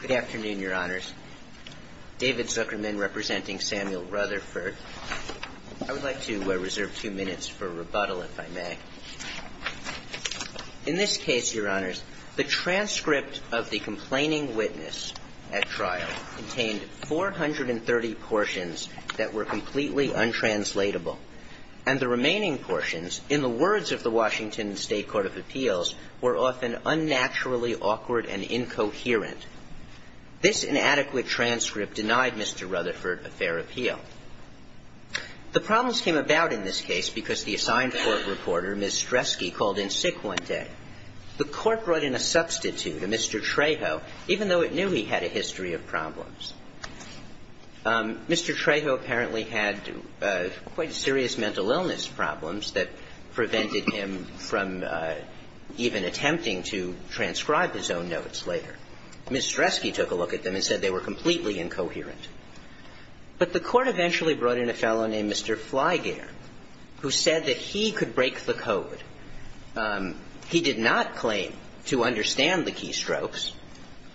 Good afternoon, Your Honors. David Zuckerman, representing Samuel Rutherford. I would like to reserve two minutes for rebuttal, if I may. In this case, Your Honors, the transcript of the complaining witness at trial contained 430 portions that were completely untranslatable. And the remaining portions, in the words of the Washington State Court of Appeals, were often unnaturally awkward and incoherent. This inadequate transcript denied Mr. Rutherford a fair appeal. The problems came about in this case because the assigned court reporter, Ms. Streske, called in sick one day. The court brought in a substitute, a Mr. Trejo, even though it knew he had a history of problems. Mr. Trejo apparently had quite serious mental illness problems that prevented him from even attempting to transcribe his own notes later. Ms. Streske took a look at them and said they were completely incoherent. But the court eventually brought in a fellow named Mr. Flygear, who said that he could break the code. He did not claim to understand the keystrokes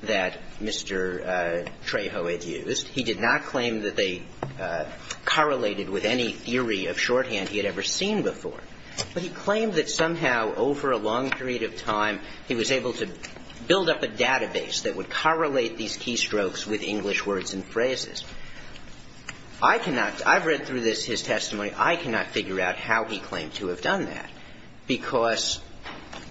that Mr. Trejo had used. He did not claim that they correlated with any theory of shorthand he had ever seen before. But he claimed that somehow, over a long period of time, he was able to build up a database that would correlate these keystrokes with English words and phrases. I cannot – I've read through this, his testimony. I cannot figure out how he claimed to have done that. Because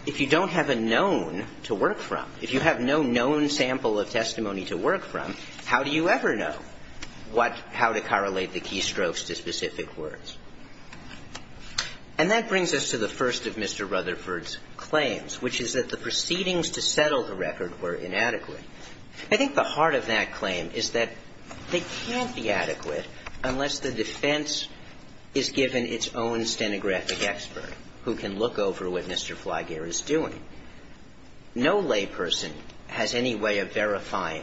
if you don't have a known to work from, if you have no known sample of testimony to work from, how do you ever know what – how to correlate the keystrokes to specific words? And that brings us to the first of Mr. Rutherford's claims, which is that the proceedings to settle the record were inadequate. I think the heart of that claim is that they can't be adequate unless the defense is given its own stenographic expert who can look over what Mr. Flagger is doing. No layperson has any way of verifying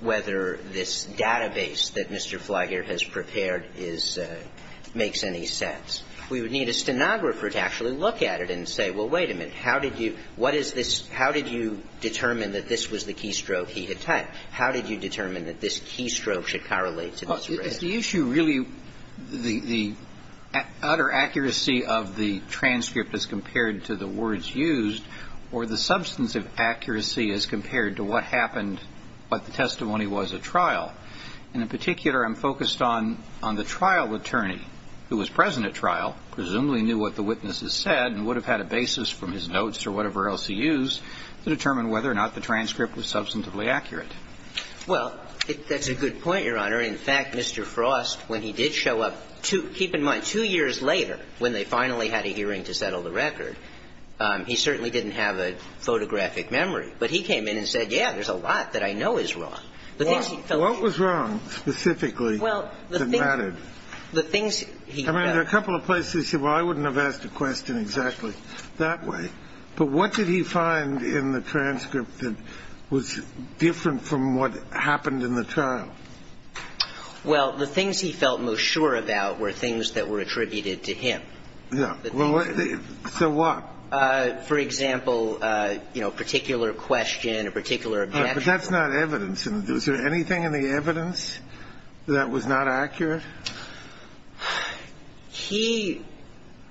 whether this database that Mr. Flagger has prepared is – makes any sense. We would need a stenographer to actually look at it and say, well, wait a minute. How did you – what is this – how did you determine that this was the keystroke he had typed? The issue really – the utter accuracy of the transcript as compared to the words used or the substantive accuracy as compared to what happened, what the testimony was at trial. And in particular, I'm focused on the trial attorney who was present at trial, presumably knew what the witnesses said and would have had a basis from his notes or whatever else he used to determine whether or not the transcript was substantively accurate. Well, that's a good point, Your Honor. In fact, Mr. Frost, when he did show up two – keep in mind, two years later, when they finally had a hearing to settle the record, he certainly didn't have a photographic memory. But he came in and said, yeah, there's a lot that I know is wrong. The things he felt should be true. Well, what was wrong specifically that mattered? Well, the things he felt – I mean, there are a couple of places you say, well, I wouldn't have asked a question exactly that way. But what did he find in the transcript that was different from what happened in the trial? Well, the things he felt most sure about were things that were attributed to him. Yeah. So what? For example, you know, a particular question, a particular objection. But that's not evidence. Is there anything in the evidence that was not accurate? Well, Your Honor, he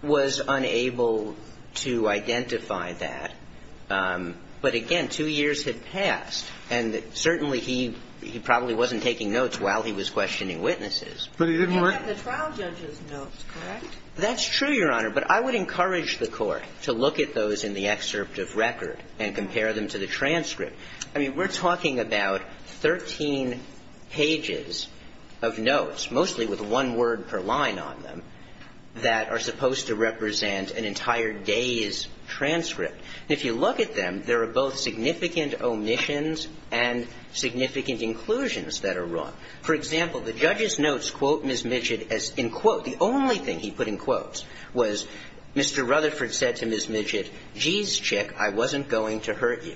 was unable to identify that. But again, two years had passed. And certainly, he probably wasn't taking notes while he was questioning witnesses. But he didn't write the trial judge's notes, correct? That's true, Your Honor. But I would encourage the Court to look at those in the excerpt of record and compare them to the transcript. I mean, we're talking about 13 pages of notes, mostly with one word per line on them, that are supposed to represent an entire day's transcript. And if you look at them, there are both significant omissions and significant inclusions that are wrong. For example, the judge's notes quote Ms. Midgett as, in quote – the only thing he put in quotes was, Mr. Rutherford said to Ms. Midgett, geez, chick, I wasn't going to hurt you.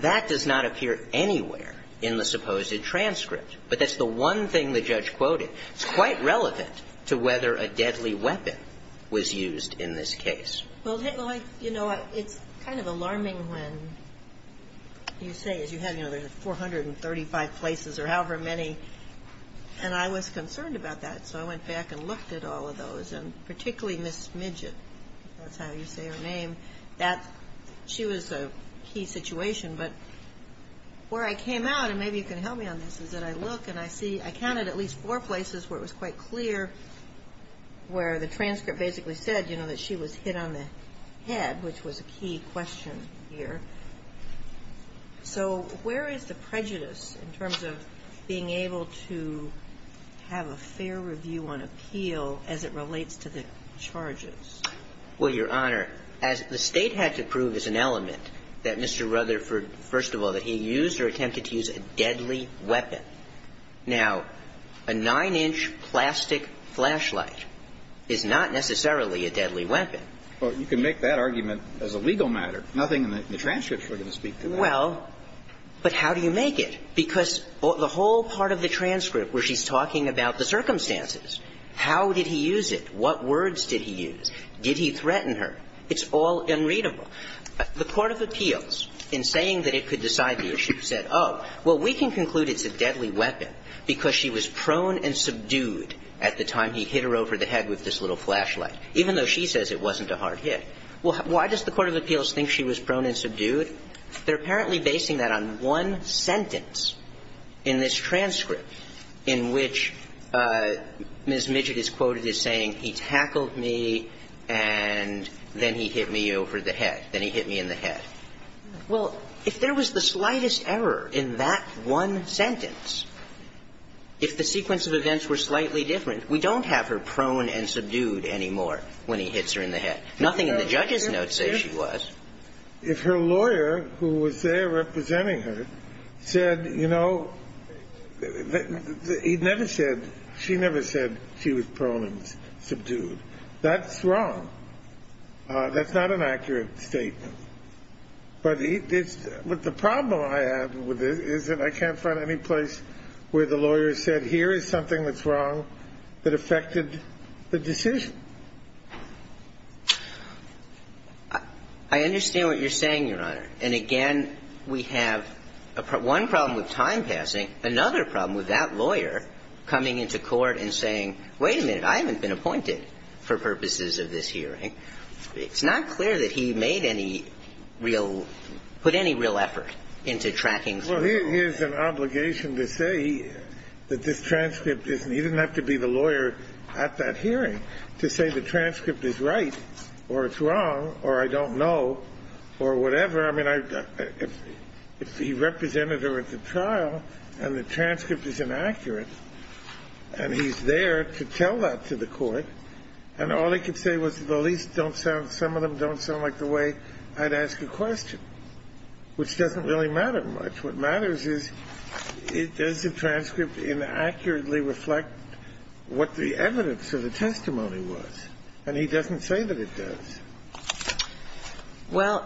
That does not appear anywhere in the supposed transcript. But that's the one thing the judge quoted. It's quite relevant to whether a deadly weapon was used in this case. Well, you know, it's kind of alarming when you say, as you have, you know, there's 435 places or however many. And I was concerned about that. So I went back and looked at all of those. And particularly Ms. Midgett, if that's how you say her name, that she was a key person in this situation. But where I came out, and maybe you can help me on this, is that I look and I see I counted at least four places where it was quite clear where the transcript basically said, you know, that she was hit on the head, which was a key question here. So where is the prejudice in terms of being able to have a fair review on appeal as it relates to the charges? Well, Your Honor, as the State had to prove as an element that Mr. Rutherford, first of all, that he used or attempted to use a deadly weapon. Now, a 9-inch plastic flashlight is not necessarily a deadly weapon. Well, you can make that argument as a legal matter. Nothing in the transcripts were going to speak to that. Well, but how do you make it? Because the whole part of the transcript where she's talking about the circumstances, how did he use it? What words did he use? Did he threaten her? It's all unreadable. The court of appeals, in saying that it could decide the issue, said, oh, well, we can conclude it's a deadly weapon because she was prone and subdued at the time he hit her over the head with this little flashlight, even though she says it wasn't a hard hit. Well, why does the court of appeals think she was prone and subdued? They're apparently basing that on one sentence in this transcript in which Ms. Midget is quoted as saying, he tackled me and then he hit me over the head, then he hit me in the head. Well, if there was the slightest error in that one sentence, if the sequence of events were slightly different, we don't have her prone and subdued anymore when he hits her in the head. Nothing in the judge's notes says she was. If her lawyer, who was there representing her, said, you know, he never said, she was prone and subdued, that's wrong. That's not an accurate statement. But the problem I have with it is that I can't find any place where the lawyer said, here is something that's wrong that affected the decision. I understand what you're saying, Your Honor. And again, we have one problem with time passing, another problem with that lawyer coming into court and saying, wait a minute, I haven't been appointed for purposes of this hearing. It's not clear that he made any real – put any real effort into tracking through the law. Well, here's an obligation to say that this transcript is – he didn't have to be the lawyer at that hearing to say the transcript is right or it's wrong or I don't know or whatever. I mean, if he represented her at the trial and the transcript is inaccurate and he's there to tell that to the court, and all he could say was, at the least, don't sound – some of them don't sound like the way I'd ask a question, which doesn't really matter much. What matters is, does the transcript inaccurately reflect what the evidence of the testimony was? And he doesn't say that it does. Well,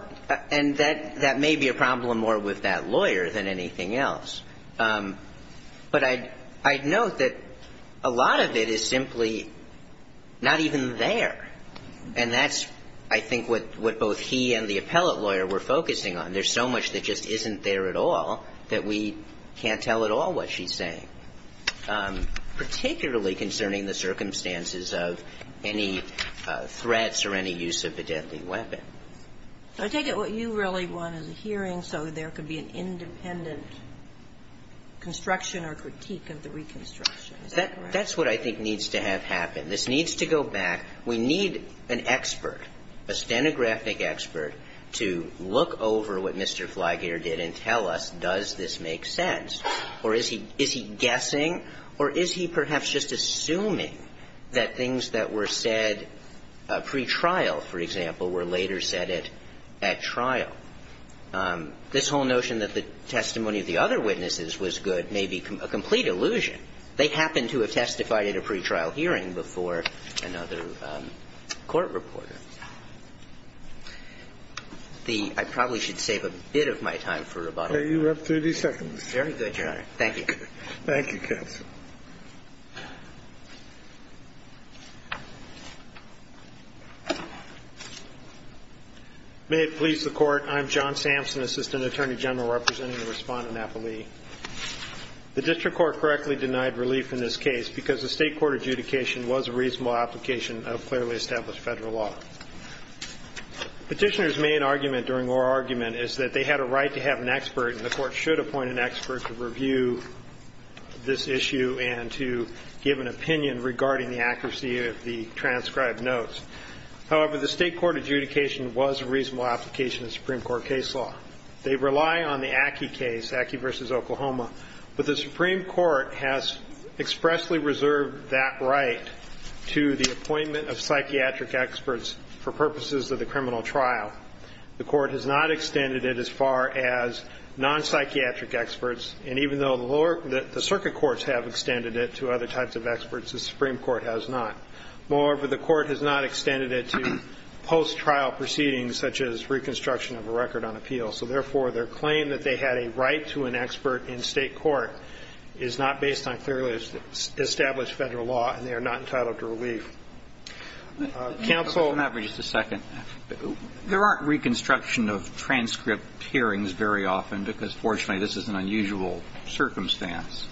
and that may be a problem more with that lawyer than anything else. But I'd note that a lot of it is simply not even there. And that's, I think, what both he and the appellate lawyer were focusing on. There's so much that just isn't there at all that we can't tell at all what she's saying, particularly concerning the circumstances of any threats or any use of the deadly weapon. I take it what you really want is a hearing so there could be an independent construction or critique of the reconstruction. Is that correct? That's what I think needs to have happen. This needs to go back. We need an expert, a stenographic expert, to look over what Mr. Flaggator did and tell us, does this make sense? Or is he guessing? Or is he perhaps just assuming that things that were said pretrial, for example, were later said at trial? This whole notion that the testimony of the other witnesses was good may be a complete illusion. They happened to have testified at a pretrial hearing before another court reporter. The – I probably should save a bit of my time for rebuttal. You have 30 seconds. Very good, Your Honor. Thank you. Thank you, counsel. May it please the Court. I'm John Sampson, Assistant Attorney General, representing the Respondent Appellee. The district court correctly denied relief in this case because the state court adjudication was a reasonable application of clearly established Federal law. Petitioner's main argument during oral argument is that they had a right to have an expert to review this issue and to give an opinion regarding the accuracy of the transcribed notes. However, the state court adjudication was a reasonable application of Supreme Court case law. They rely on the Ackie case, Ackie v. Oklahoma, but the Supreme Court has expressly reserved that right to the appointment of psychiatric experts for purposes of the criminal trial. The Court has not extended it as far as non-psychiatric experts. And even though the lower – the circuit courts have extended it to other types of experts, the Supreme Court has not. Moreover, the Court has not extended it to post-trial proceedings such as reconstruction of a record on appeal. So therefore, their claim that they had a right to an expert in state court is not based on clearly established Federal law, and they are not entitled to relief. Counsel – There aren't reconstruction of transcript hearings very often because, fortunately, this is an unusual circumstance.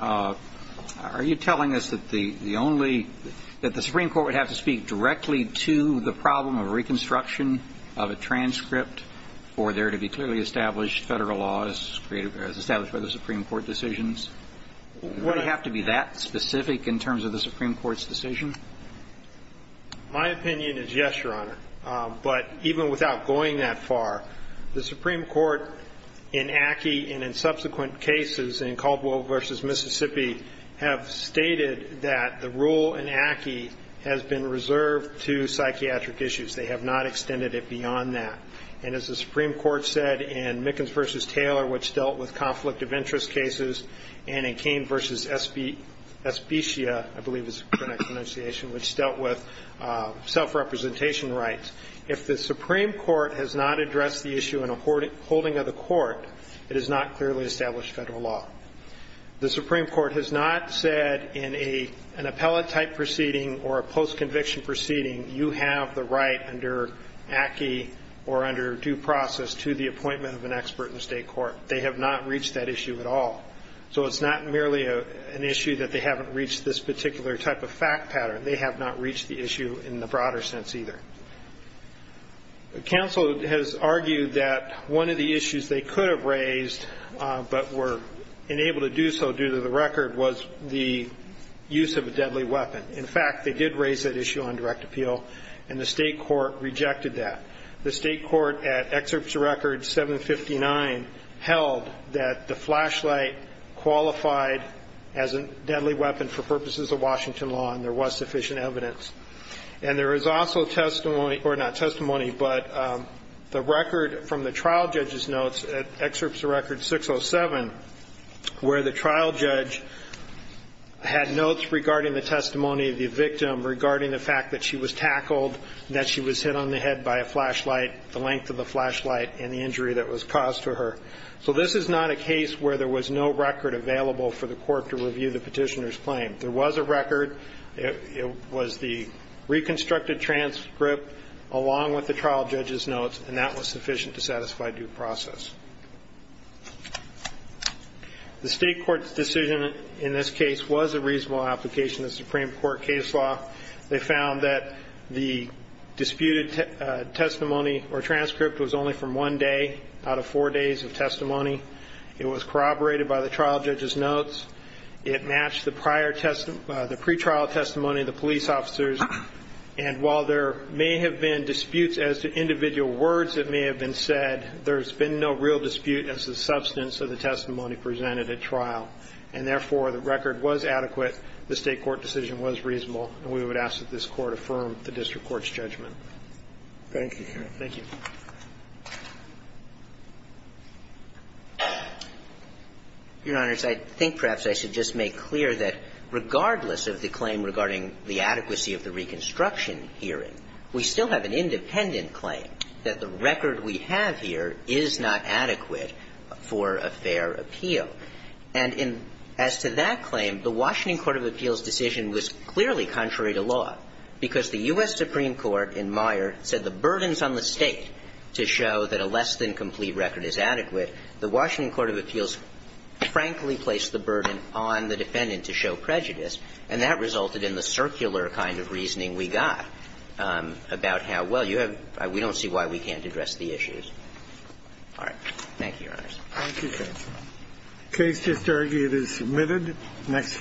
Are you telling us that the only – that the Supreme Court would have to speak directly to the problem of reconstruction of a transcript for there to be clearly established Federal law as created – as established by the Supreme Court decisions? Would it have to be that specific in terms of the Supreme Court's decision? My opinion is yes, Your Honor. But even without going that far, the Supreme Court in Ackee and in subsequent cases in Caldwell v. Mississippi have stated that the rule in Ackee has been reserved to psychiatric issues. They have not extended it beyond that. And as the Supreme Court said in Mickens v. Taylor, which dealt with conflict of interest cases, and in Cain v. Especia, I believe is the correct pronunciation, which dealt with self-representation rights, if the Supreme Court has not addressed the issue in a holding of the court, it has not clearly established Federal law. The Supreme Court has not said in an appellate-type proceeding or a post-conviction proceeding, you have the right under Ackee or under due process to the appointment of an expert in state court. They have not reached that issue at all. So it's not merely an issue that they haven't reached this particular type of fact pattern. They have not reached the issue in the broader sense either. Counsel has argued that one of the issues they could have raised but were unable to do so due to the record was the use of a deadly weapon. In fact, they did raise that issue on direct appeal, and the state court rejected that. The state court at Excerpts of Record 759 held that the flashlight qualified as a deadly weapon for purposes of Washington law, and there was sufficient evidence. And there is also testimony or not testimony, but the record from the trial judge's notes at Excerpts of Record 607, where the trial judge had notes regarding the testimony of the victim regarding the fact that she was tackled, that she was hit on the head by a flashlight, the length of the flashlight, and the injury that was caused to her. So this is not a case where there was no record available for the court to review the petitioner's claim. There was a record. It was the reconstructed transcript along with the trial judge's notes, and that was sufficient to satisfy due process. The state court's decision in this case was a reasonable application of Supreme Court case law. They found that the disputed testimony or transcript was only from one day out of four days of testimony. It was corroborated by the trial judge's notes. It matched the pre-trial testimony of the police officers. And while there may have been disputes as to individual words that may have been said, there's been no real dispute as to the substance of the testimony presented at trial. And, therefore, the record was adequate. The state court decision was reasonable. And we would ask that this Court affirm the district court's judgment. Thank you, Your Honor. Thank you. Your Honors, I think perhaps I should just make clear that regardless of the claim regarding the adequacy of the reconstruction hearing, we still have an independent claim that the record we have here is not adequate for a fair appeal. And as to that claim, the Washington Court of Appeals' decision was clearly contrary to law, because the U.S. Supreme Court in Meyer said the burdens on the State to show that a less-than-complete record is adequate, the Washington Court of Appeals frankly placed the burden on the defendant to show prejudice, and that resulted in the circular kind of reasoning we got about how, well, you have – we don't see why we can't All right. Thank you, Your Honors. Thank you, counsel. The case is submitted. Next.